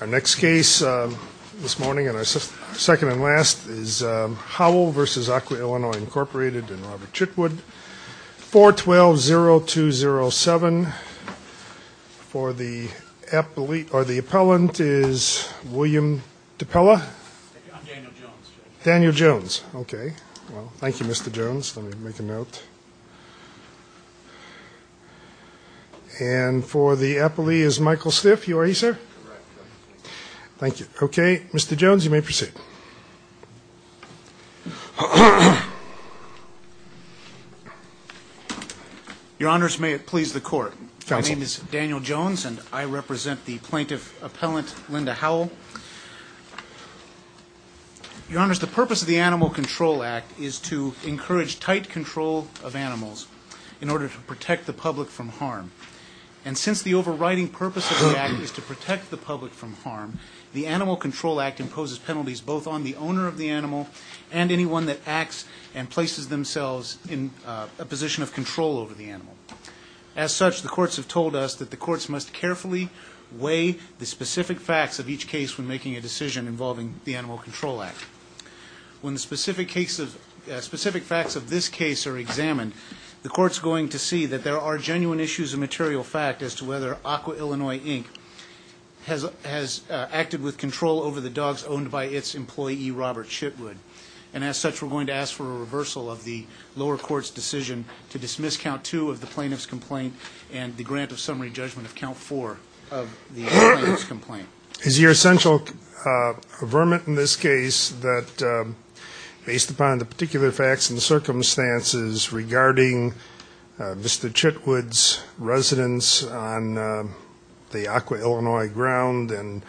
Our next case this morning and our second and last is Howle v. Aqua Illinois, Inc. and Robert Chitwood. 4-12-0207. For the appellant is William DiPella. I'm Daniel Jones. Daniel Jones. Okay. Well, thank you, Mr. Jones. Let me make a note. And for the appellee is Michael Stiff. You are he, sir? Correct. Thank you. Thank you. Okay. Mr. Jones, you may proceed. Your Honors, may it please the Court. Counsel. My name is Daniel Jones and I represent the plaintiff appellant Linda Howle. Your Honors, the purpose of the Animal Control Act is to encourage tight control of animals in order to protect the public from harm. And since the overriding purpose of the Act is to protect the public from harm, the Animal Control Act imposes penalties both on the owner of the animal and anyone that acts and places themselves in a position of control over the animal. As such, the courts have told us that the courts must carefully weigh the specific facts of each case when making a decision involving the Animal Control Act. When the specific facts of this case are examined, the court's going to see that there are genuine issues of material fact as to whether Aqua Illinois, Inc. has acted with control over the dogs owned by its employee, Robert Shipwood. And as such, we're going to ask for a reversal of the lower court's decision to dismiss count two of the plaintiff's complaint and the grant of summary judgment of count four of the plaintiff's complaint. Is your essential averment in this case that based upon the particular facts and circumstances regarding Mr. Chipwood's residence on the Aqua Illinois ground and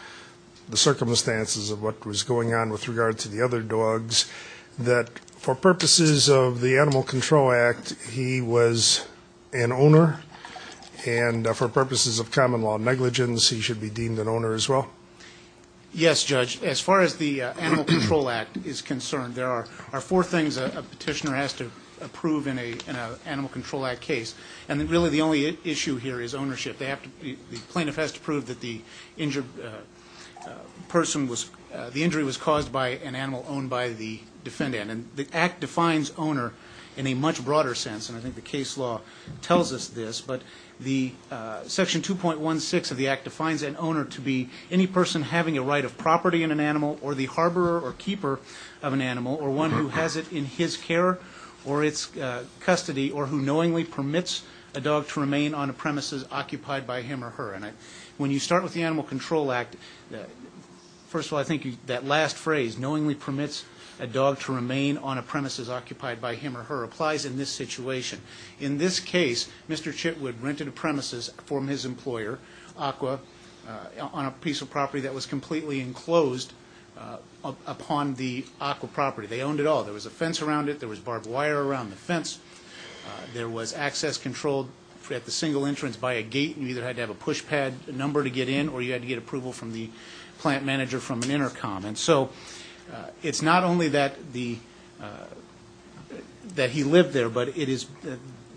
the circumstances of what was going on with regard to the other dogs, that for purposes of the Animal Control Act, he was an owner? And for purposes of common law negligence, he should be deemed an owner as well? Yes, Judge. As far as the Animal Control Act is concerned, there are four things a petitioner has to approve in an Animal Control Act case. And really the only issue here is ownership. The plaintiff has to prove that the injury was caused by an animal owned by the defendant. And the Act defines owner in a much broader sense. And I think the case law tells us this. But Section 2.16 of the Act defines an owner to be any person having a right of property in an animal or the harborer or keeper of an animal or one who has it in his care or its custody or who knowingly permits a dog to remain on a premises occupied by him or her. And when you start with the Animal Control Act, first of all, I think that last phrase, knowingly permits a dog to remain on a premises occupied by him or her, applies in this situation. In this case, Mr. Chipwood rented a premises from his employer, Aqua, on a piece of property that was completely enclosed upon the Aqua property. They owned it all. There was a fence around it. There was barbed wire around the fence. There was access controlled at the single entrance by a gate. You either had to have a pushpad number to get in or you had to get approval from the plant manager from an intercom. And so it's not only that he lived there, but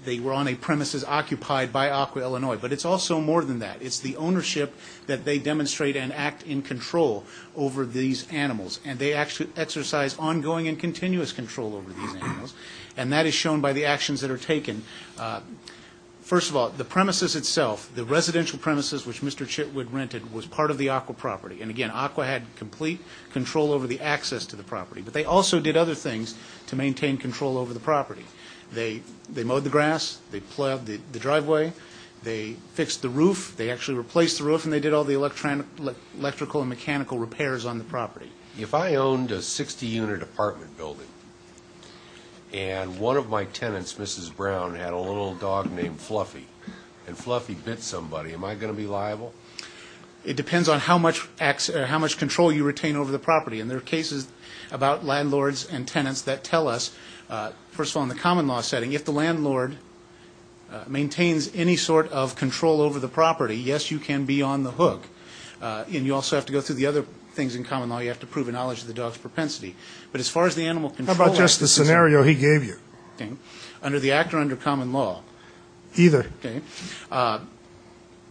they were on a premises occupied by Aqua, Illinois. But it's also more than that. It's the ownership that they demonstrate and act in control over these animals. And they exercise ongoing and continuous control over these animals. And that is shown by the actions that are taken. First of all, the premises itself, the residential premises which Mr. Chipwood rented, was part of the Aqua property. And, again, Aqua had complete control over the access to the property. But they also did other things to maintain control over the property. They mowed the grass. They plowed the driveway. They fixed the roof. They actually replaced the roof, and they did all the electrical and mechanical repairs on the property. If I owned a 60-unit apartment building and one of my tenants, Mrs. Brown, had a little dog named Fluffy, and Fluffy bit somebody, am I going to be liable? It depends on how much control you retain over the property. And there are cases about landlords and tenants that tell us, first of all, in the common law setting, if the landlord maintains any sort of control over the property, yes, you can be on the hook. And you also have to go through the other things in common law. You have to prove a knowledge of the dog's propensity. But as far as the animal control act. How about just the scenario he gave you? Under the act or under common law? Either. Okay.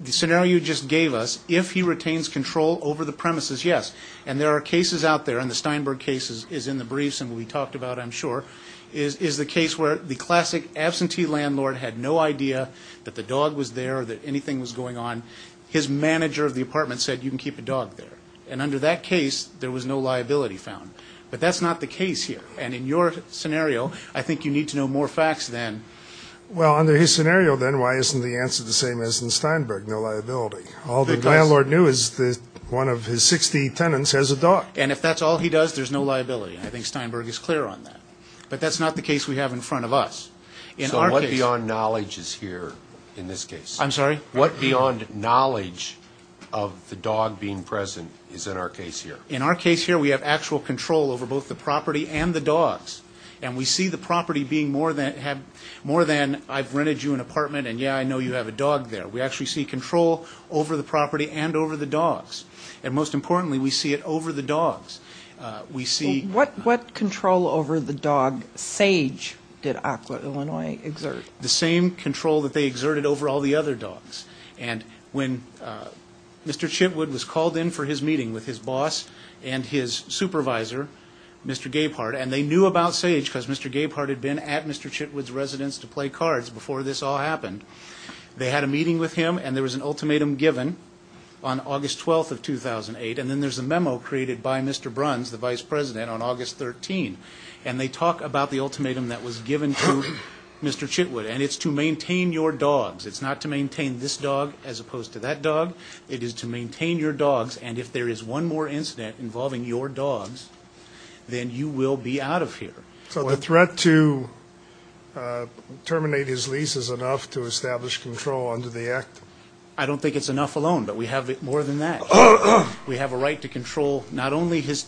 The scenario you just gave us, if he retains control over the premises, yes. And there are cases out there, and the Steinberg case is in the briefs and will be talked about, I'm sure, is the case where the classic absentee landlord had no idea that the dog was there or that anything was going on. His manager of the apartment said, you can keep a dog there. And under that case, there was no liability found. But that's not the case here. And in your scenario, I think you need to know more facts than. Well, under his scenario, then, why isn't the answer the same as in Steinberg, no liability? All the landlord knew is that one of his 60 tenants has a dog. And if that's all he does, there's no liability. I think Steinberg is clear on that. But that's not the case we have in front of us. So what beyond knowledge is here in this case? I'm sorry? What beyond knowledge of the dog being present is in our case here? In our case here, we have actual control over both the property and the dogs. And we see the property being more than I've rented you an apartment and, yeah, I know you have a dog there. We actually see control over the property and over the dogs. And most importantly, we see it over the dogs. What control over the dog, Sage, did Aqua Illinois exert? The same control that they exerted over all the other dogs. And when Mr. Chitwood was called in for his meeting with his boss and his supervisor, Mr. Gapehart, and they knew about Sage because Mr. Gapehart had been at Mr. Chitwood's residence to play cards before this all happened. They had a meeting with him, and there was an ultimatum given on August 12th of 2008. And then there's a memo created by Mr. Bruns, the vice president, on August 13th. And they talk about the ultimatum that was given to Mr. Chitwood. And it's to maintain your dogs. It's not to maintain this dog as opposed to that dog. It is to maintain your dogs. And if there is one more incident involving your dogs, then you will be out of here. So the threat to terminate his lease is enough to establish control under the act? I don't think it's enough alone, but we have more than that. We have a right to control not only his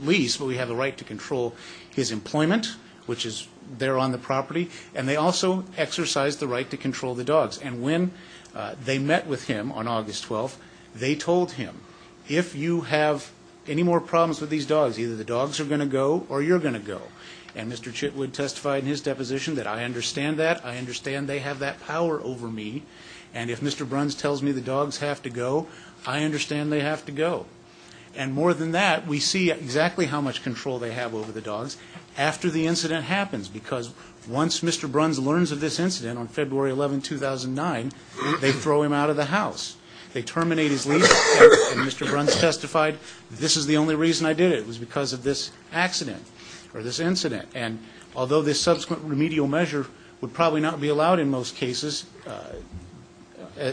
lease, but we have a right to control his employment, which is there on the property. And they also exercise the right to control the dogs. And when they met with him on August 12th, they told him, if you have any more problems with these dogs, either the dogs are going to go or you're going to go. And Mr. Chitwood testified in his deposition that I understand that. I understand they have that power over me. And if Mr. Bruns tells me the dogs have to go, I understand they have to go. And more than that, we see exactly how much control they have over the dogs after the incident happens, because once Mr. Bruns learns of this incident on February 11, 2009, they throw him out of the house. They terminate his lease, and Mr. Bruns testified, this is the only reason I did it. It was because of this accident or this incident. And although this subsequent remedial measure would probably not be allowed in most cases on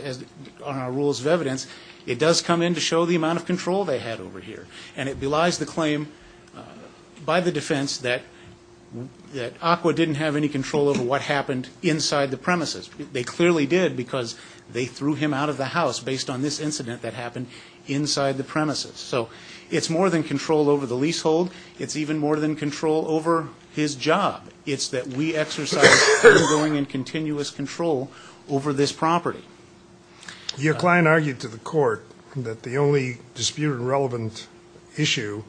our rules of evidence, it does come in to show the amount of control they had over here. And it belies the claim by the defense that ACWA didn't have any control over what happened inside the premises. They clearly did because they threw him out of the house based on this incident that happened inside the premises. So it's more than control over the leasehold. It's even more than control over his job. It's that we exercise ongoing and continuous control over this property. Your client argued to the court that the only disputed relevant issue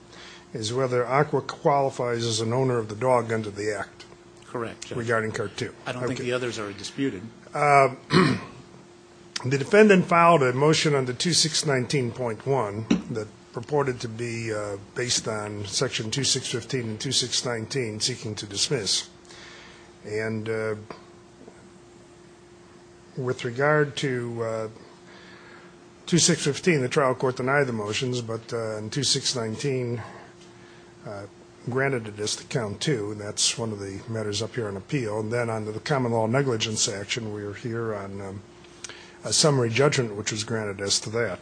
is whether ACWA qualifies as an owner of the dog under the act. Correct. Regarding Cart 2. I don't think the others are disputed. The defendant filed a motion under 2619.1 that purported to be based on section 2615 and 2619, seeking to dismiss. And with regard to 2615, the trial court denied the motions, but in 2619, granted it as to count two. And that's one of the matters up here on appeal. And then under the common law negligence action, we are here on a summary judgment which was granted as to that.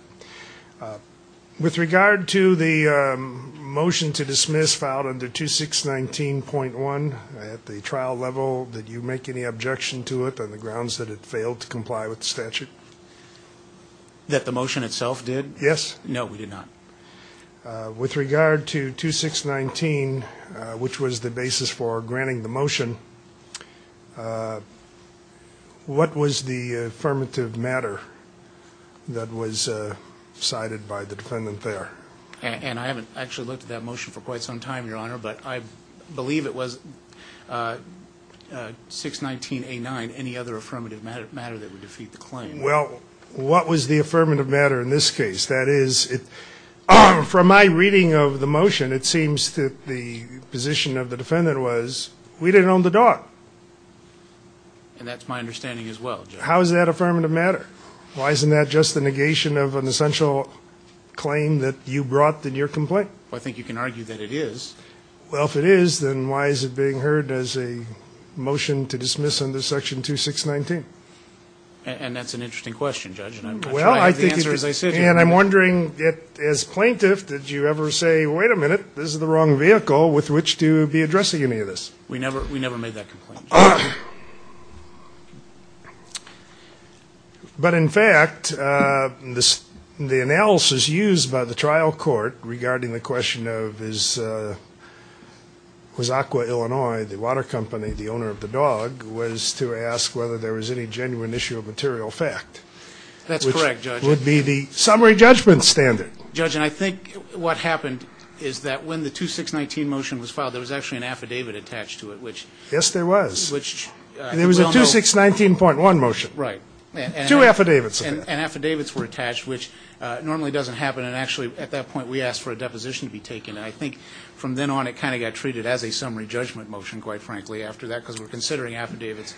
With regard to the motion to dismiss filed under 2619.1 at the trial level, did you make any objection to it on the grounds that it failed to comply with the statute? That the motion itself did? Yes. No, we did not. With regard to 2619, which was the basis for granting the motion, what was the affirmative matter that was cited by the defendant there? And I haven't actually looked at that motion for quite some time, Your Honor, but I believe it was 619A9, any other affirmative matter that would defeat the claim. Well, what was the affirmative matter in this case? That is, from my reading of the motion, it seems that the position of the defendant was, we didn't own the dog. And that's my understanding as well, Judge. How is that affirmative matter? Why isn't that just the negation of an essential claim that you brought in your complaint? I think you can argue that it is. Well, if it is, then why is it being heard as a motion to dismiss under section 2619? And that's an interesting question, Judge. Well, I think it is. And I'm wondering, as plaintiff, did you ever say, wait a minute, this is the wrong vehicle with which to be addressing any of this? We never made that complaint. But, in fact, the analysis used by the trial court regarding the question of, was Aqua, Illinois, the water company, the owner of the dog, was to ask whether there was any genuine issue of material fact. That's correct, Judge. Which would be the summary judgment standard. Judge, and I think what happened is that when the 2619 motion was filed, there was actually an affidavit attached to it. Yes, there was. And there was a 2619.1 motion. Right. Two affidavits. And affidavits were attached, which normally doesn't happen. And actually, at that point, we asked for a deposition to be taken. And I think from then on, it kind of got treated as a summary judgment motion, quite frankly, after that, because we're considering affidavits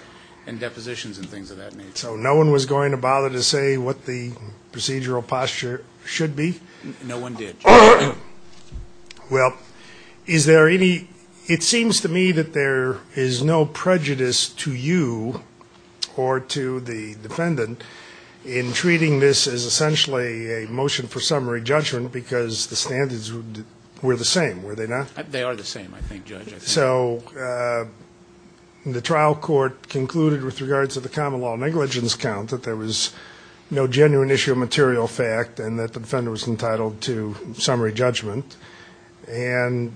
and depositions and things of that nature. So no one was going to bother to say what the procedural posture should be? No one did, Judge. Well, is there any ‑‑ it seems to me that there is no prejudice to you or to the defendant in treating this as essentially a motion for summary judgment because the standards were the same, were they not? They are the same, I think, Judge. So the trial court concluded with regards to the common law negligence count that there was no genuine issue of material fact and that the defendant was entitled to summary judgment. And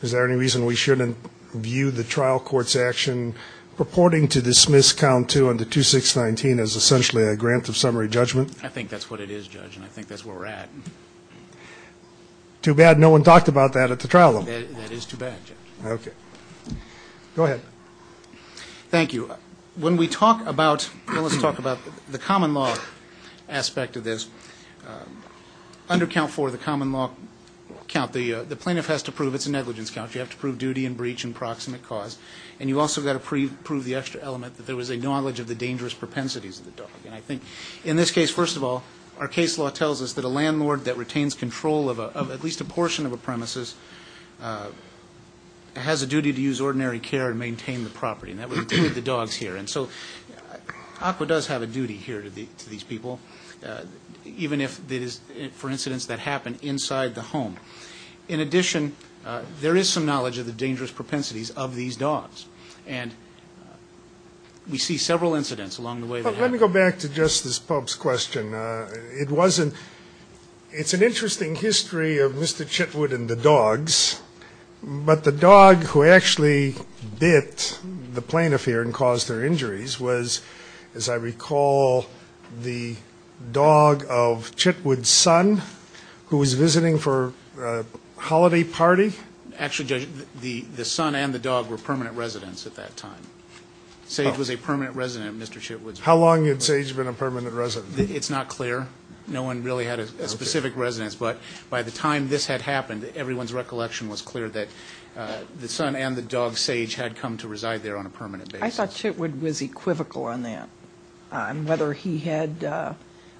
is there any reason we shouldn't view the trial court's action purporting to dismiss Count 2 under 2619 as essentially a grant of summary judgment? I think that's what it is, Judge, and I think that's where we're at. Too bad no one talked about that at the trial, though. That is too bad, Judge. Okay. Go ahead. Thank you. When we talk about ‑‑ let's talk about the common law aspect of this. Under Count 4, the common law count, the plaintiff has to prove it's a negligence count. You have to prove duty and breach and proximate cause. And you've also got to prove the extra element that there was a knowledge of the dangerous propensities of the dog. And I think in this case, first of all, our case law tells us that a landlord that retains control of at least a portion of a premises has a duty to use ordinary care and maintain the property, and that would include the dogs here. And so ACWA does have a duty here to these people, even if it is, for instance, that happened inside the home. In addition, there is some knowledge of the dangerous propensities of these dogs. And we see several incidents along the way that happen. Let me go back to Justice Pope's question. It wasn't ‑‑ it's an interesting history of Mr. Chitwood and the dogs, but the dog who actually bit the plaintiff here and caused her injuries was, as I recall, the dog of Chitwood's son who was visiting for a holiday party? Actually, Judge, the son and the dog were permanent residents at that time. Sage was a permanent resident of Mr. Chitwood's home. How long had Sage been a permanent resident? It's not clear. No one really had a specific residence. But by the time this had happened, everyone's recollection was clear that the son and the dog Sage had come to reside there on a permanent basis. I thought Chitwood was equivocal on that, whether he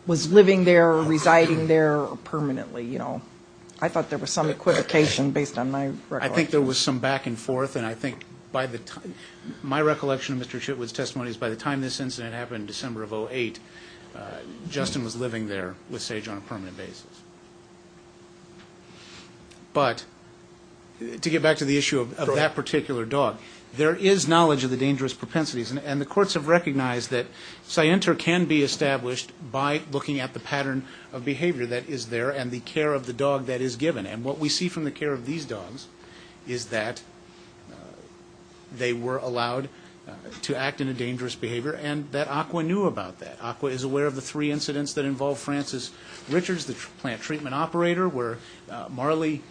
was living there or residing there or permanently. I thought there was some equivocation based on my recollection. I think there was some back and forth. My recollection of Mr. Chitwood's testimony is by the time this incident happened in December of 2008, Justin was living there with Sage on a permanent basis. But to get back to the issue of that particular dog, there is knowledge of the dangerous propensities, and the courts have recognized that scienter can be established by looking at the pattern of behavior that is there and the care of the dog that is given. And what we see from the care of these dogs is that they were allowed to act in a dangerous behavior and that ACWA knew about that. ACWA is aware of the three incidents that involve Frances Richards, the plant treatment operator, where Marley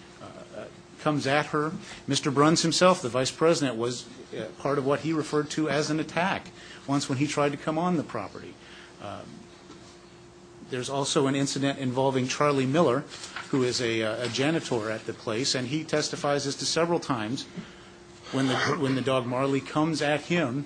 comes at her. Mr. Bruns himself, the vice president, was part of what he referred to as an attack once when he tried to come on the property. There's also an incident involving Charlie Miller, who is a janitor at the place, and he testifies as to several times when the dog Marley comes at him,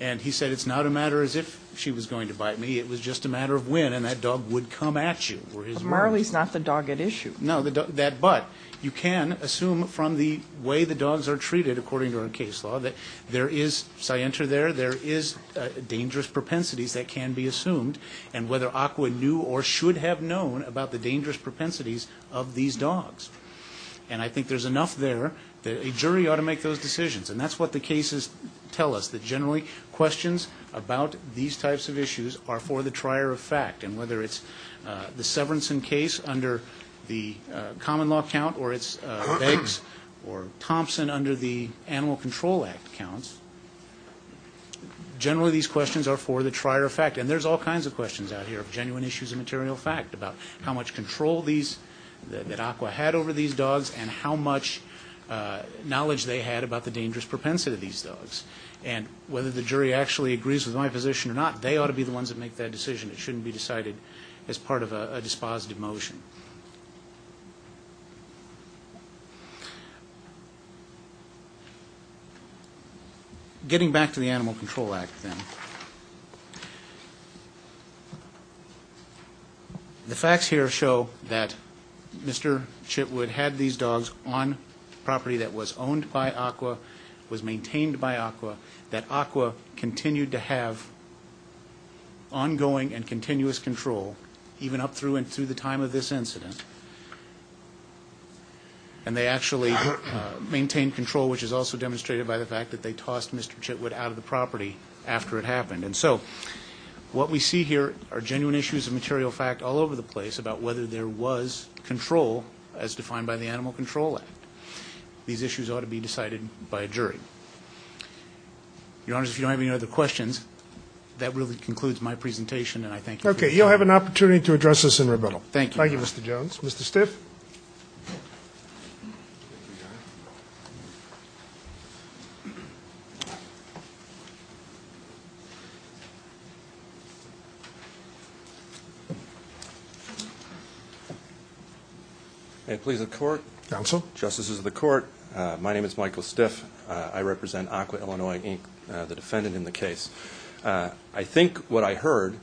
and he said it's not a matter as if she was going to bite me. It was just a matter of when, and that dog would come at you. But Marley's not the dog at issue. No, but you can assume from the way the dogs are treated, according to our case law, that there is scienter there. There is dangerous propensities that can be assumed, and whether ACWA knew or should have known about the dangerous propensities of these dogs. And I think there's enough there that a jury ought to make those decisions. And that's what the cases tell us, that generally questions about these types of issues are for the trier of fact. And whether it's the Severinsen case under the common law count, or it's Beggs or Thompson under the Animal Control Act counts, generally these questions are for the trier of fact. And there's all kinds of questions out here of genuine issues of material fact, about how much control that ACWA had over these dogs, and how much knowledge they had about the dangerous propensity of these dogs. And whether the jury actually agrees with my position or not, they ought to be the ones that make that decision. It shouldn't be decided as part of a dispositive motion. Getting back to the Animal Control Act then, the facts here show that Mr. Chitwood had these dogs on property that was owned by ACWA, was maintained by ACWA, that ACWA continued to have ongoing and continuous control, even up through the time of this incident. And they actually maintained control, which is also demonstrated by the fact that they tossed Mr. Chitwood out of the property after it happened. And so what we see here are genuine issues of material fact all over the place about whether there was control as defined by the Animal Control Act. These issues ought to be decided by a jury. Your Honor, if you don't have any other questions, that really concludes my presentation, and I thank you for your time. Okay, you'll have an opportunity to address us in rebuttal. Thank you. Thank you, Mr. Jones. Mr. Stiff? May it please the Court? Counsel? Justices of the Court, my name is Michael Stiff. I represent ACWA Illinois, Inc., the defendant in the case. I think what I heard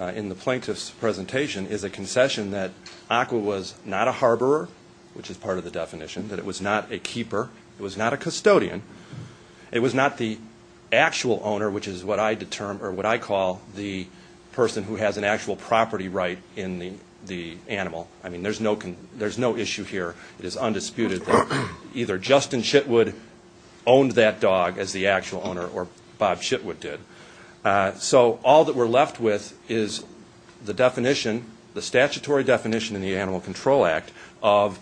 in the plaintiff's presentation is a concession that ACWA was not a harborer, which is part of the definition, that it was not a keeper, it was not a custodian, it was not the actual owner, which is what I call the person who has an actual property right in the animal. I mean, there's no issue here. It is undisputed that either Justin Chitwood owned that dog as the actual owner or Bob Chitwood did. So all that we're left with is the definition, the statutory definition in the Animal Control Act, of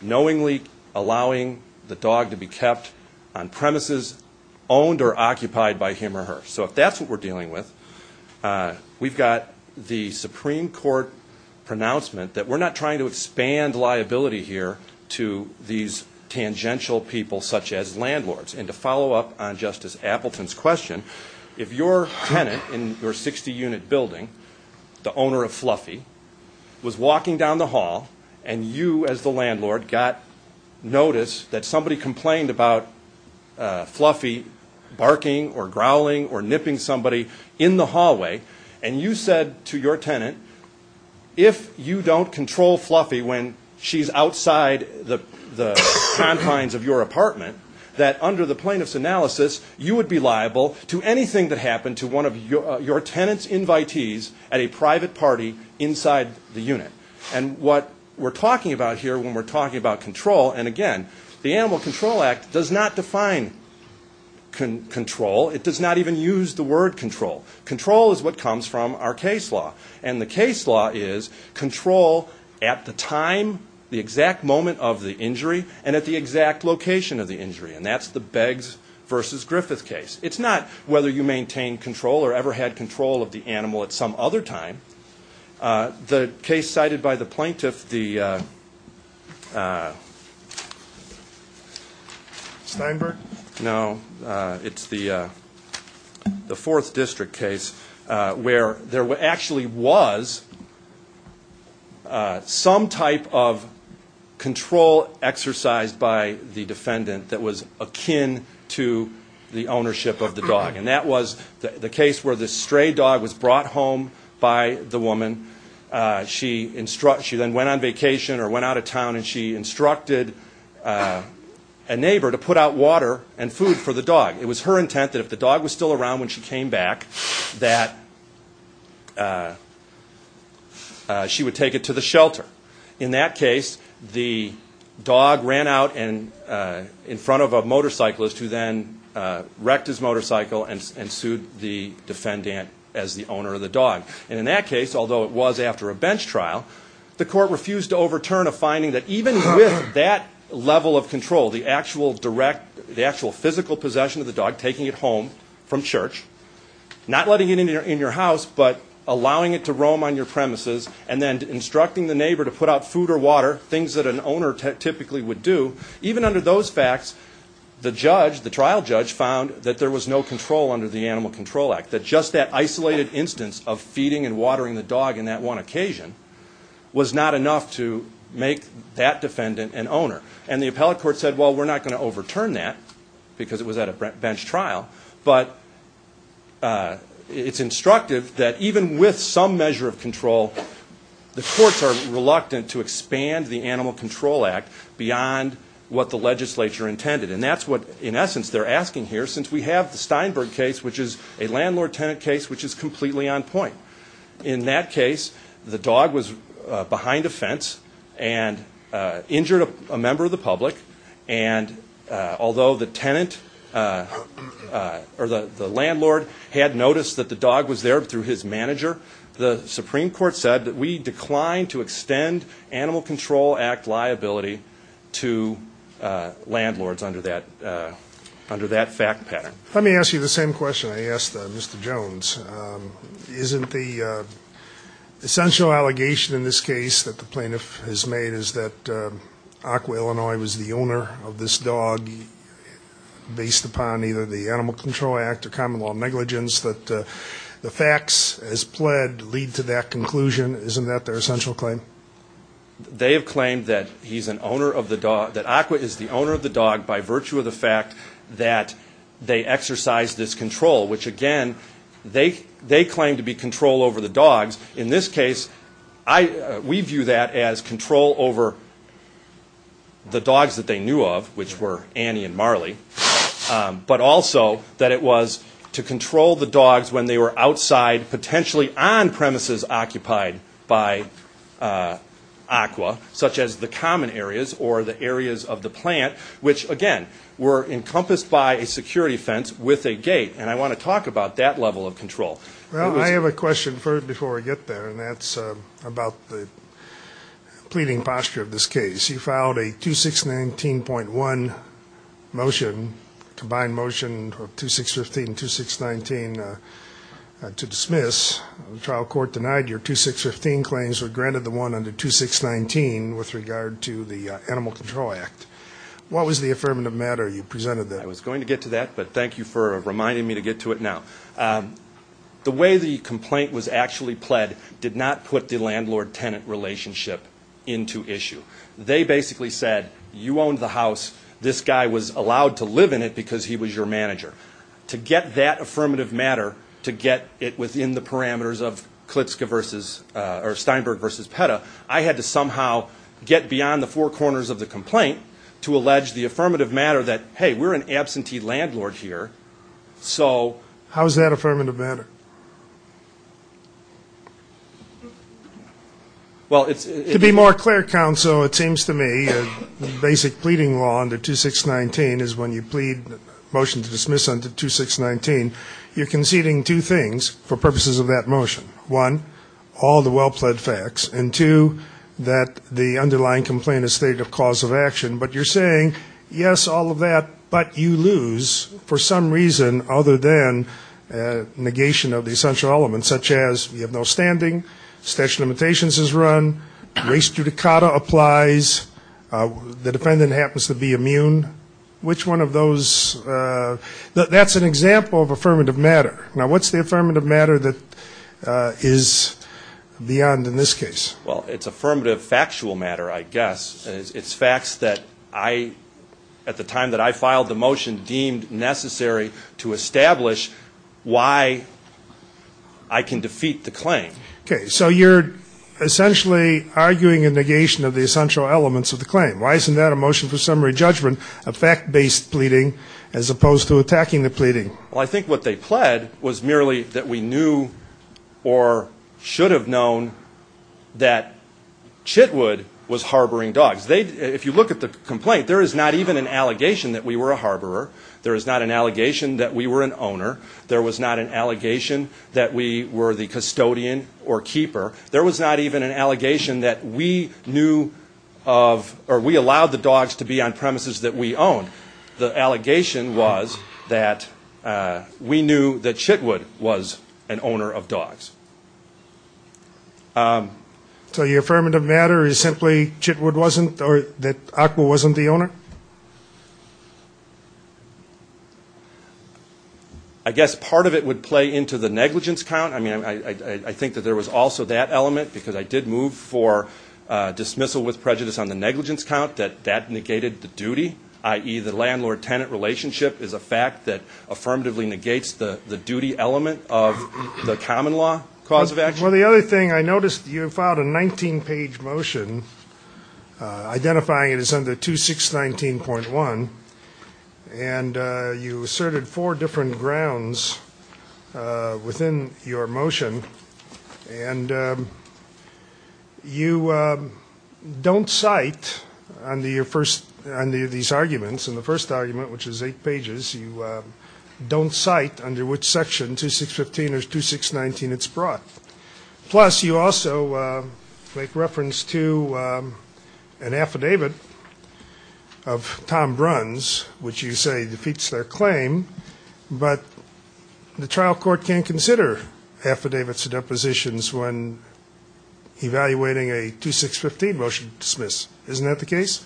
knowingly allowing the dog to be kept on premises owned or occupied by him or her. So if that's what we're dealing with, we've got the Supreme Court pronouncement that we're not trying to expand liability here to these tangential people such as landlords. And to follow up on Justice Appleton's question, if your tenant in your 60-unit building, the owner of Fluffy, was walking down the hall and you as the landlord got notice that somebody complained about Fluffy barking or growling or nipping somebody in the hallway, and you said to your tenant, if you don't control Fluffy when she's outside the confines of your apartment, that under the plaintiff's analysis, you would be liable to anything that happened to one of your tenant's invitees at a private party inside the unit. And what we're talking about here when we're talking about control, and again, the Animal Control Act does not define control. It does not even use the word control. Control is what comes from our case law, and the case law is control at the time, the exact moment of the injury, and at the exact location of the injury, and that's the Beggs v. Griffith case. It's not whether you maintain control or ever had control of the animal at some other time. The case cited by the plaintiff, the Steinberg? No, it's the Fourth District case, where there actually was some type of control exercised by the defendant that was akin to the ownership of the dog, and that was the case where the stray dog was brought home by the woman. She then went on vacation or went out of town, and she instructed a neighbor to put out water and food for the dog. It was her intent that if the dog was still around when she came back, that she would take it to the shelter. In that case, the dog ran out in front of a motorcyclist who then wrecked his motorcycle and sued the defendant as the owner of the dog, and in that case, although it was after a bench trial, the court refused to overturn a finding that even with that level of control, the actual physical possession of the dog, taking it home from church, not letting it in your house, but allowing it to roam on your premises, and then instructing the neighbor to put out food or water, things that an owner typically would do, even under those facts, the trial judge found that there was no control under the Animal Control Act, that just that isolated instance of feeding and watering the dog in that one occasion was not enough to make that defendant an owner. And the appellate court said, well, we're not going to overturn that because it was at a bench trial, but it's instructive that even with some measure of control, the courts are reluctant to expand the Animal Control Act beyond what the legislature intended, and that's what, in essence, they're asking here, since we have the Steinberg case, which is a landlord-tenant case, which is completely on point. In that case, the dog was behind a fence and injured a member of the public, and although the tenant or the landlord had noticed that the dog was there through his manager, the Supreme Court said that we declined to extend Animal Control Act liability to landlords under that fact pattern. Let me ask you the same question I asked Mr. Jones. Isn't the essential allegation in this case that the plaintiff has made is that Aqua, Illinois, was the owner of this dog based upon either the Animal Control Act or common law negligence, that the facts as pled lead to that conclusion? Isn't that their essential claim? They have claimed that he's an owner of the dog, that Aqua is the owner of the dog by virtue of the fact that they exercised this control, which, again, they claim to be control over the dogs. In this case, we view that as control over the dogs that they knew of, which were Annie and Marley, but also that it was to control the dogs when they were outside, potentially on premises occupied by Aqua, such as the common areas or the areas of the plant, which, again, were encompassed by a security fence with a gate. And I want to talk about that level of control. Well, I have a question before we get there, and that's about the pleading posture of this case. You filed a 2619.1 motion, combined motion of 2615 and 2619 to dismiss. The trial court denied your 2615 claims, but granted the one under 2619 with regard to the Animal Control Act. What was the affirmative matter you presented there? I was going to get to that, but thank you for reminding me to get to it now. The way the complaint was actually pled did not put the landlord-tenant relationship into issue. They basically said, you owned the house. This guy was allowed to live in it because he was your manager. To get that affirmative matter, to get it within the parameters of Klitschko versus or Steinberg versus PETA, I had to somehow get beyond the four corners of the complaint to allege the affirmative matter that, hey, we're an absentee landlord here. How is that affirmative matter? To be more clear, counsel, it seems to me the basic pleading law under 2619 is when you plead a motion to dismiss under 2619, you're conceding two things for purposes of that motion. One, all the well-pled facts, and two, that the underlying complaint is stated of cause of action, but you're saying, yes, all of that, but you lose for some reason other than negation of the essential elements, such as you have no standing, statute of limitations is run, race judicata applies, the defendant happens to be immune. Which one of those? That's an example of affirmative matter. Now, what's the affirmative matter that is beyond in this case? Well, it's affirmative factual matter, I guess. It's facts that I, at the time that I filed the motion, deemed necessary to establish why I can defeat the claim. Okay. So you're essentially arguing a negation of the essential elements of the claim. Why isn't that a motion for summary judgment, a fact-based pleading, as opposed to attacking the pleading? Well, I think what they pled was merely that we knew or should have known that Chitwood was harboring dogs. If you look at the complaint, there is not even an allegation that we were a harborer. There is not an allegation that we were an owner. There was not an allegation that we were the custodian or keeper. There was not even an allegation that we allowed the dogs to be on premises that we owned. The allegation was that we knew that Chitwood was an owner of dogs. So your affirmative matter is simply Chitwood wasn't or that ACWA wasn't the owner? I guess part of it would play into the negligence count. I mean, I think that there was also that element, because I did move for dismissal with prejudice on the negligence count, that that negated the duty, i.e., the landlord-tenant relationship is a fact that affirmatively negates the duty element of the common law cause of action. Well, the other thing, I noticed you filed a 19-page motion identifying it as under 2619.1, and you asserted four different grounds within your motion. And you don't cite under these arguments, in the first argument, which is eight pages, you don't cite under which section, 2615 or 2619, it's brought. Plus, you also make reference to an affidavit of Tom Bruns, which you say defeats their claim, but the trial court can't consider affidavits or depositions when evaluating a 2615 motion to dismiss. Isn't that the case?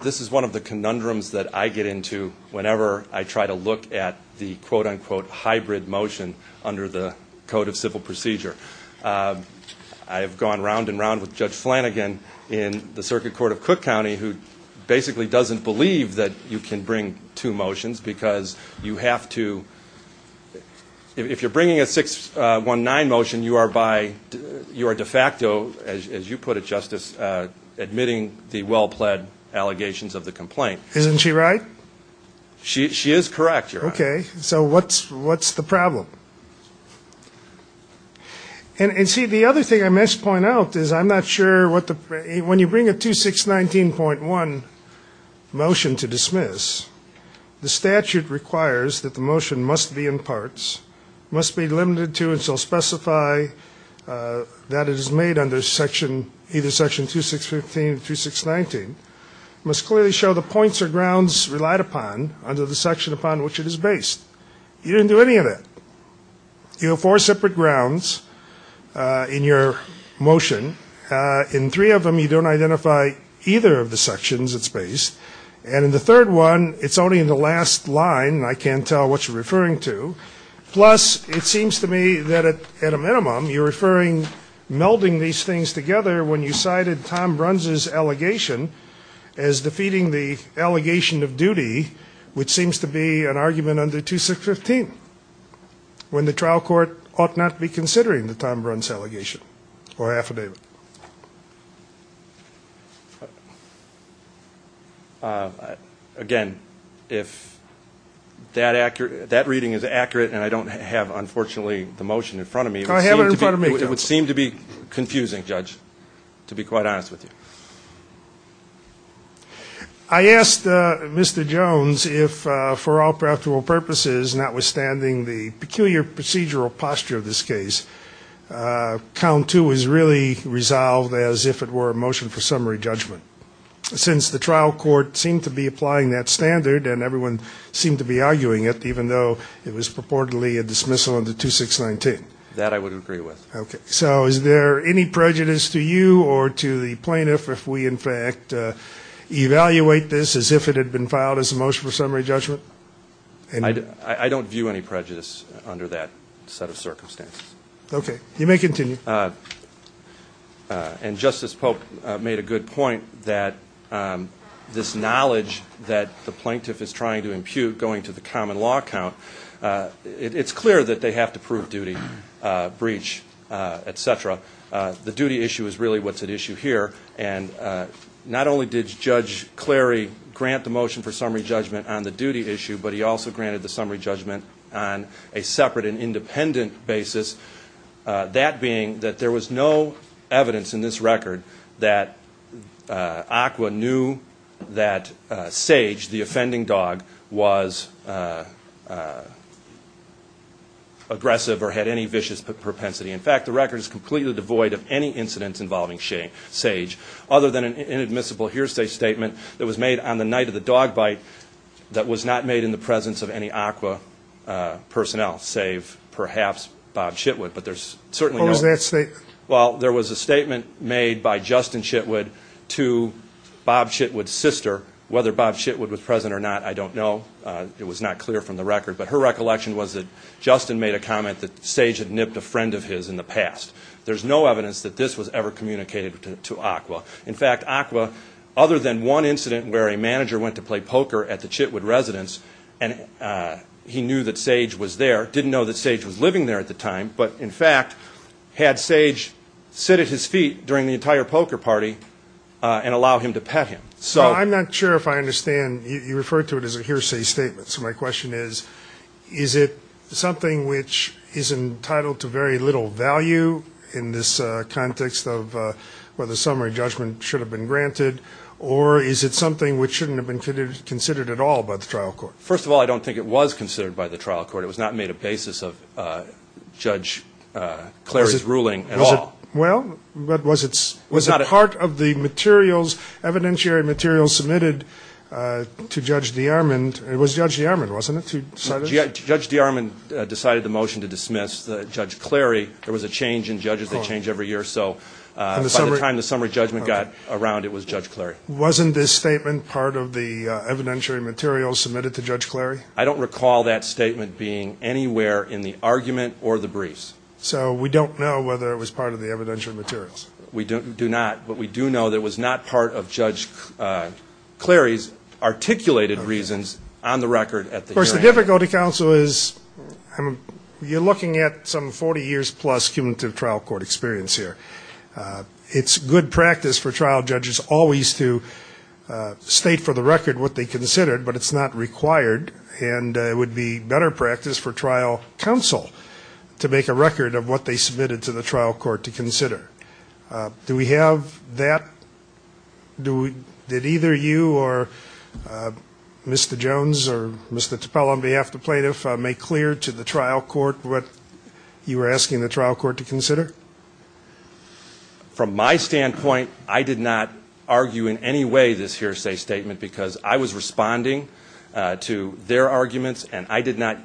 This is one of the conundrums that I get into whenever I try to look at the, quote-unquote, hybrid motion under the Code of Civil Procedure. I have gone round and round with Judge Flanagan in the circuit court of Cook County, who basically doesn't believe that you can bring two motions because you have to, if you're bringing a 619 motion, you are by, you are de facto, as you put it, Justice, admitting the well-pled allegations of the complaint. Isn't she right? She is correct, Your Honor. Okay, so what's the problem? And see, the other thing I must point out is I'm not sure what the, when you bring a 2619.1 motion to dismiss, the statute requires that the motion must be in parts, must be limited to and shall specify that it is made under section, either section 2615 or 2619, must clearly show the points or grounds relied upon under the section upon which it is based. You didn't do any of that. You have four separate grounds in your motion. In three of them, you don't identify either of the sections it's based. And in the third one, it's only in the last line, and I can't tell what you're referring to. Plus, it seems to me that at a minimum, you're referring, when you cited Tom Bruns's allegation as defeating the allegation of duty, which seems to be an argument under 2615, when the trial court ought not be considering the Tom Bruns allegation or affidavit. Again, if that reading is accurate, and I don't have, unfortunately, the motion in front of me, it would seem to be confusing, Judge, to be quite honest with you. I asked Mr. Jones if, for all practical purposes, notwithstanding the peculiar procedural posture of this case, count two is really resolved as if it were a motion for summary judgment, since the trial court seemed to be applying that standard and everyone seemed to be arguing it, even though it was purportedly a dismissal under 2619. That I would agree with. Okay. So is there any prejudice to you or to the plaintiff if we, in fact, evaluate this as if it had been filed as a motion for summary judgment? I don't view any prejudice under that set of circumstances. Okay. You may continue. And Justice Pope made a good point that this knowledge that the plaintiff is trying to impute going to the common law count, it's clear that they have to prove duty, breach, et cetera. The duty issue is really what's at issue here, and not only did Judge Clary grant the motion for summary judgment on the duty issue, but he also granted the summary judgment on a separate and independent basis, that being that there was no evidence in this record that ACWA knew that Sage, the offending dog, was aggressive or had any vicious propensity. In fact, the record is completely devoid of any incidents involving Sage, other than an inadmissible hearsay statement that was made on the night of the dog bite that was not made in the presence of any ACWA personnel, save perhaps Bob Shitwood, but there's certainly no other. What was that statement? Well, there was a statement made by Justin Shitwood to Bob Shitwood's sister. Whether Bob Shitwood was present or not, I don't know. It was not clear from the record, but her recollection was that Justin made a comment that Sage had nipped a friend of his in the past. There's no evidence that this was ever communicated to ACWA. In fact, ACWA, other than one incident where a manager went to play poker at the Shitwood residence and he knew that Sage was there, didn't know that Sage was living there at the time, but in fact had Sage sit at his feet during the entire poker party and allow him to pet him. So I'm not sure if I understand. You referred to it as a hearsay statement, so my question is, is it something which is entitled to very little value in this context of whether summary judgment should have been granted, or is it something which shouldn't have been considered at all by the trial court? First of all, I don't think it was considered by the trial court. It was not made a basis of Judge Clary's ruling at all. Well, but was it part of the materials, evidentiary materials submitted to Judge DeArmond? It was Judge DeArmond, wasn't it, who decided it? Judge DeArmond decided the motion to dismiss Judge Clary. There was a change in judges. They change every year. So by the time the summary judgment got around, it was Judge Clary. Wasn't this statement part of the evidentiary materials submitted to Judge Clary? I don't recall that statement being anywhere in the argument or the briefs. So we don't know whether it was part of the evidentiary materials. We do not, but we do know that it was not part of Judge Clary's articulated reasons on the record at the hearing. Of course, the difficulty, counsel, is you're looking at some 40 years plus cumulative trial court experience here. It's good practice for trial judges always to state for the record what they considered, but it's not required, and it would be better practice for trial counsel to make a record of what they submitted to the trial court to consider. Do we have that? Did either you or Mr. Jones or Mr. Tappel, on behalf of the plaintiff, make clear to the trial court what you were asking the trial court to consider? From my standpoint, I did not argue in any way this hearsay statement because I was responding to their arguments, and I did not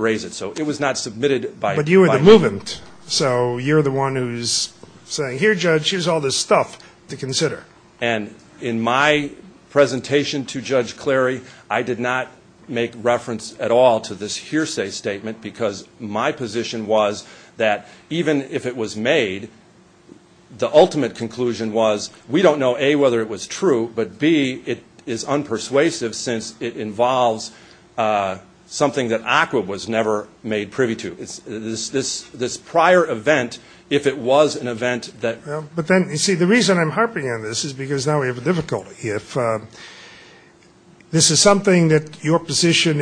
raise it, so it was not submitted by me. But you were the movant, so you're the one who's saying, here, Judge, here's all this stuff to consider. And in my presentation to Judge Clary, I did not make reference at all to this hearsay statement because my position was that even if it was made, the ultimate conclusion was we don't know, A, whether it was true, but, B, it is unpersuasive since it involves something that ACWA was never made privy to. This prior event, if it was an event that ---- But then, you see, the reason I'm harping on this is because now we have a difficulty. If this is something that your position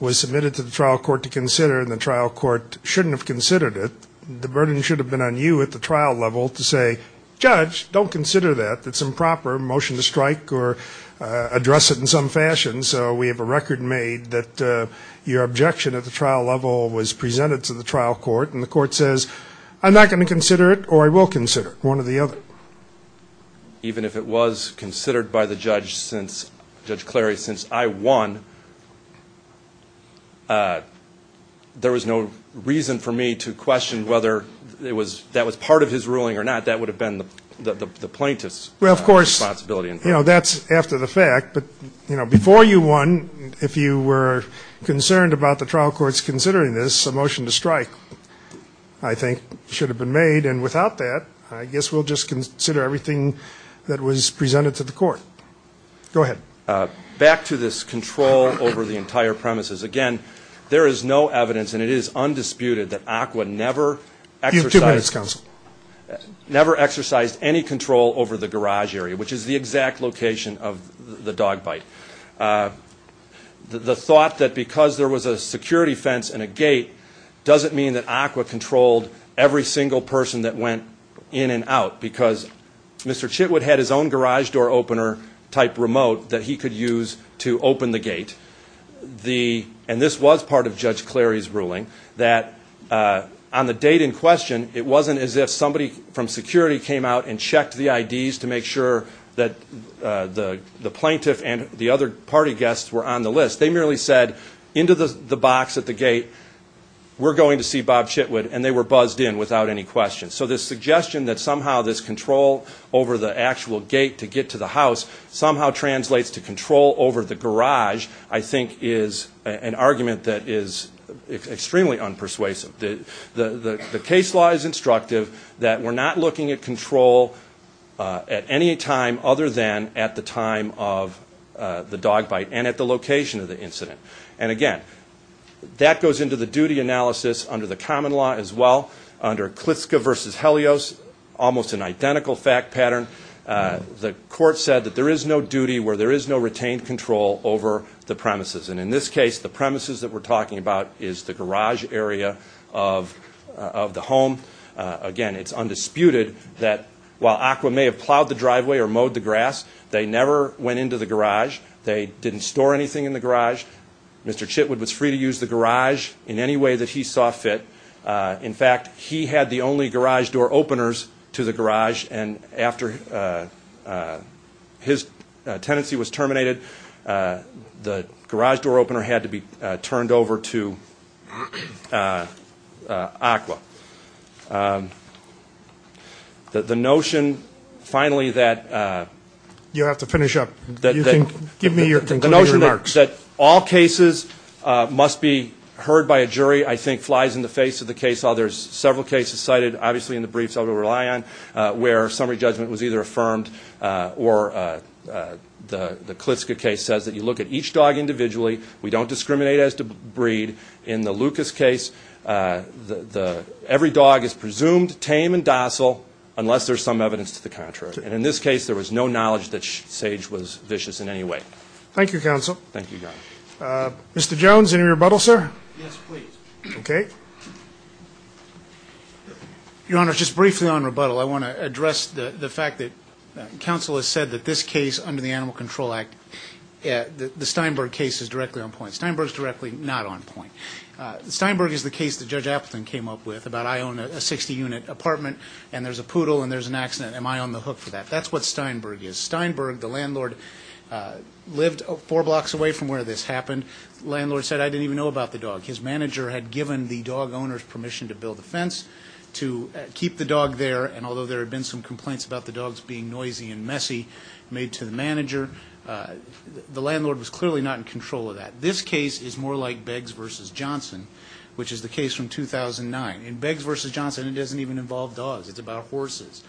was submitted to the trial court to consider and the trial court shouldn't have considered it, the burden should have been on you at the trial level to say, Judge, don't consider that. It's improper, motion to strike or address it in some fashion, so we have a record made that your objection at the trial level was presented to the trial court, and the court says, I'm not going to consider it or I will consider it, one or the other. Even if it was considered by the judge since, Judge Clary, since I won, there was no reason for me to question whether that was part of his ruling or not. That would have been the plaintiff's responsibility. Well, of course, you know, that's after the fact, but, you know, before you won, if you were concerned about the trial courts considering this, a motion to strike, I think, should have been made, and without that, I guess we'll just consider everything that was presented to the court. Go ahead. Back to this control over the entire premises. Again, there is no evidence, and it is undisputed, that ACWA never exercised any control over the garage area, which is the exact location of the dog bite. The thought that because there was a security fence and a gate doesn't mean that ACWA controlled every single person that went in and out because Mr. Chitwood had his own garage door opener type remote that he could use to open the gate, and this was part of Judge Clary's ruling, that on the date in question, it wasn't as if somebody from security came out and checked the IDs to make sure that the plaintiff and the other party guests were on the list. They merely said, into the box at the gate, we're going to see Bob Chitwood, and they were buzzed in without any questions. So this suggestion that somehow this control over the actual gate to get to the house somehow translates to control over the garage, I think is an argument that is extremely unpersuasive. The case law is instructive that we're not looking at control at any time other than at the time of the dog bite and at the location of the incident. And again, that goes into the duty analysis under the common law as well. Under Klitschko v. Helios, almost an identical fact pattern. The court said that there is no duty where there is no retained control over the premises. And in this case, the premises that we're talking about is the garage area of the home. Again, it's undisputed that while ACWA may have plowed the driveway or mowed the grass, they never went into the garage. They didn't store anything in the garage. Mr. Chitwood was free to use the garage in any way that he saw fit. In fact, he had the only garage door openers to the garage, and after his tenancy was terminated, the garage door opener had to be turned over to ACWA. The notion, finally, that all cases must be heard by a jury, I think, flies in the face of the case law. There's several cases cited, obviously, in the briefs I will rely on, where summary judgment was either affirmed or the Klitschko case says that you look at each dog individually. In the Lucas case, every dog is presumed tame and docile unless there's some evidence to the contrary. And in this case, there was no knowledge that Sage was vicious in any way. Thank you, counsel. Thank you, Your Honor. Mr. Jones, any rebuttal, sir? Yes, please. Okay. Your Honor, just briefly on rebuttal, I want to address the fact that counsel has said that this case, under the Animal Control Act, the Steinberg case is directly on point. Steinberg is the case that Judge Appleton came up with about I own a 60-unit apartment and there's a poodle and there's an accident. Am I on the hook for that? That's what Steinberg is. Steinberg, the landlord, lived four blocks away from where this happened. The landlord said, I didn't even know about the dog. His manager had given the dog owner's permission to build a fence to keep the dog there, and although there had been some complaints about the dogs being noisy and messy made to the manager, the landlord was clearly not in control of that. This case is more like Beggs v. Johnson, which is the case from 2009. In Beggs v. Johnson, it doesn't even involve dogs. It's about horses.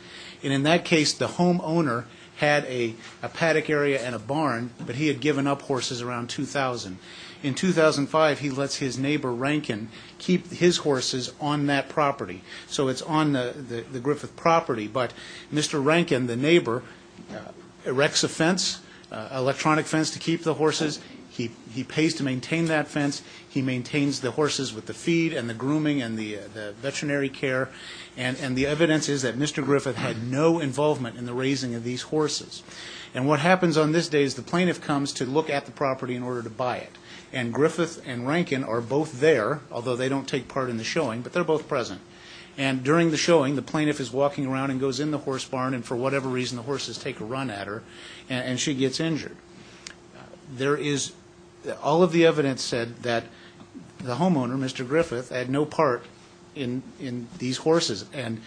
And in that case, the homeowner had a paddock area and a barn, but he had given up horses around 2,000. In 2005, he lets his neighbor, Rankin, keep his horses on that property. So it's on the Griffith property, but Mr. Rankin, the neighbor, erects a fence, an electronic fence to keep the horses. He pays to maintain that fence. He maintains the horses with the feed and the grooming and the veterinary care, and the evidence is that Mr. Griffith had no involvement in the raising of these horses. And what happens on this day is the plaintiff comes to look at the property in order to buy it, and Griffith and Rankin are both there, although they don't take part in the showing, but they're both present. And during the showing, the plaintiff is walking around and goes in the horse barn, and for whatever reason, the horses take a run at her, and she gets injured. There is all of the evidence said that the homeowner, Mr. Griffith, had no part in these horses. And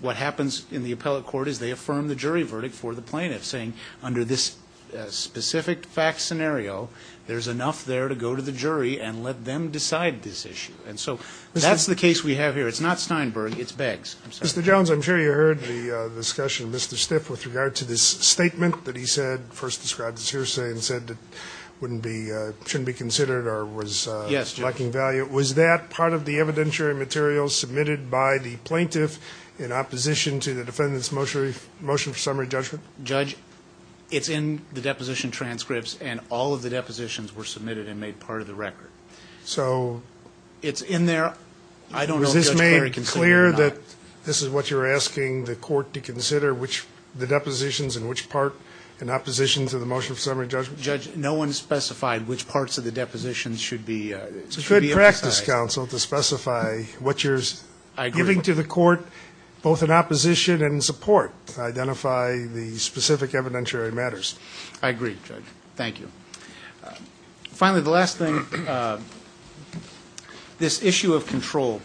what happens in the appellate court is they affirm the jury verdict for the plaintiff, saying under this specific fact scenario, there's enough there to go to the jury and let them decide this issue. And so that's the case we have here. It's not Steinberg. It's Beggs. Mr. Jones, I'm sure you heard the discussion of Mr. Stiff with regard to this statement that he said, first described as hearsay and said that it shouldn't be considered or was lacking value. Was that part of the evidentiary material submitted by the plaintiff in opposition to the defendant's motion for summary judgment? Judge, it's in the deposition transcripts, and all of the depositions were submitted and made part of the record. So it's in there. Was this made clear that this is what you're asking the court to consider, the depositions and which part in opposition to the motion for summary judgment? Judge, no one specified which parts of the depositions should be emphasized. It's a good practice, counsel, to specify what you're giving to the court, both in opposition and in support, to identify the specific evidentiary matters. I agree, Judge. Thank you. Finally, the last thing, this issue of control,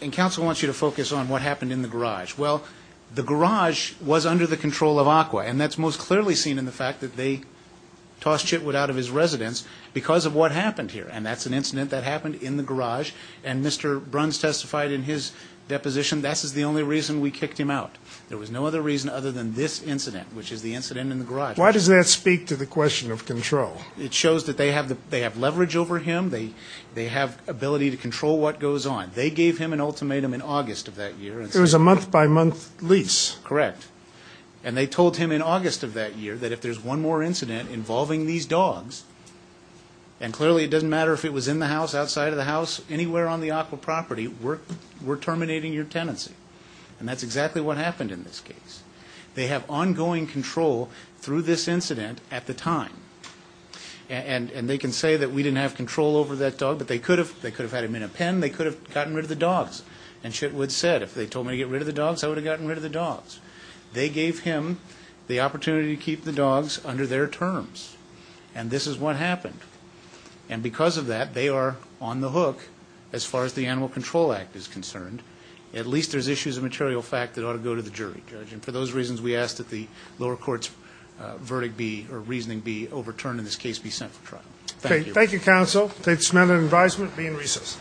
and counsel wants you to focus on what happened in the garage. Well, the garage was under the control of ACWA, and that's most clearly seen in the fact that they tossed chitwood out of his residence because of what happened here, and that's an incident that happened in the garage, and Mr. Bruns testified in his deposition, this is the only reason we kicked him out. There was no other reason other than this incident, which is the incident in the garage. Why does that speak to the question of control? It shows that they have leverage over him. They have ability to control what goes on. They gave him an ultimatum in August of that year. It was a month-by-month lease. Correct. And they told him in August of that year that if there's one more incident involving these dogs, and clearly it doesn't matter if it was in the house, outside of the house, anywhere on the ACWA property, we're terminating your tenancy. And that's exactly what happened in this case. They have ongoing control through this incident at the time, and they can say that we didn't have control over that dog, but they could have had him in a pen, they could have gotten rid of the dogs, and chitwood said, if they told me to get rid of the dogs, I would have gotten rid of the dogs. They gave him the opportunity to keep the dogs under their terms, and this is what happened. And because of that, they are on the hook as far as the Animal Control Act is concerned. At least there's issues of material fact that ought to go to the jury, Judge. And for those reasons, we ask that the lower court's verdict be, or reasoning be, overturned, and this case be sent for trial. Thank you. Thank you, counsel. This amendment in advisement be in recess.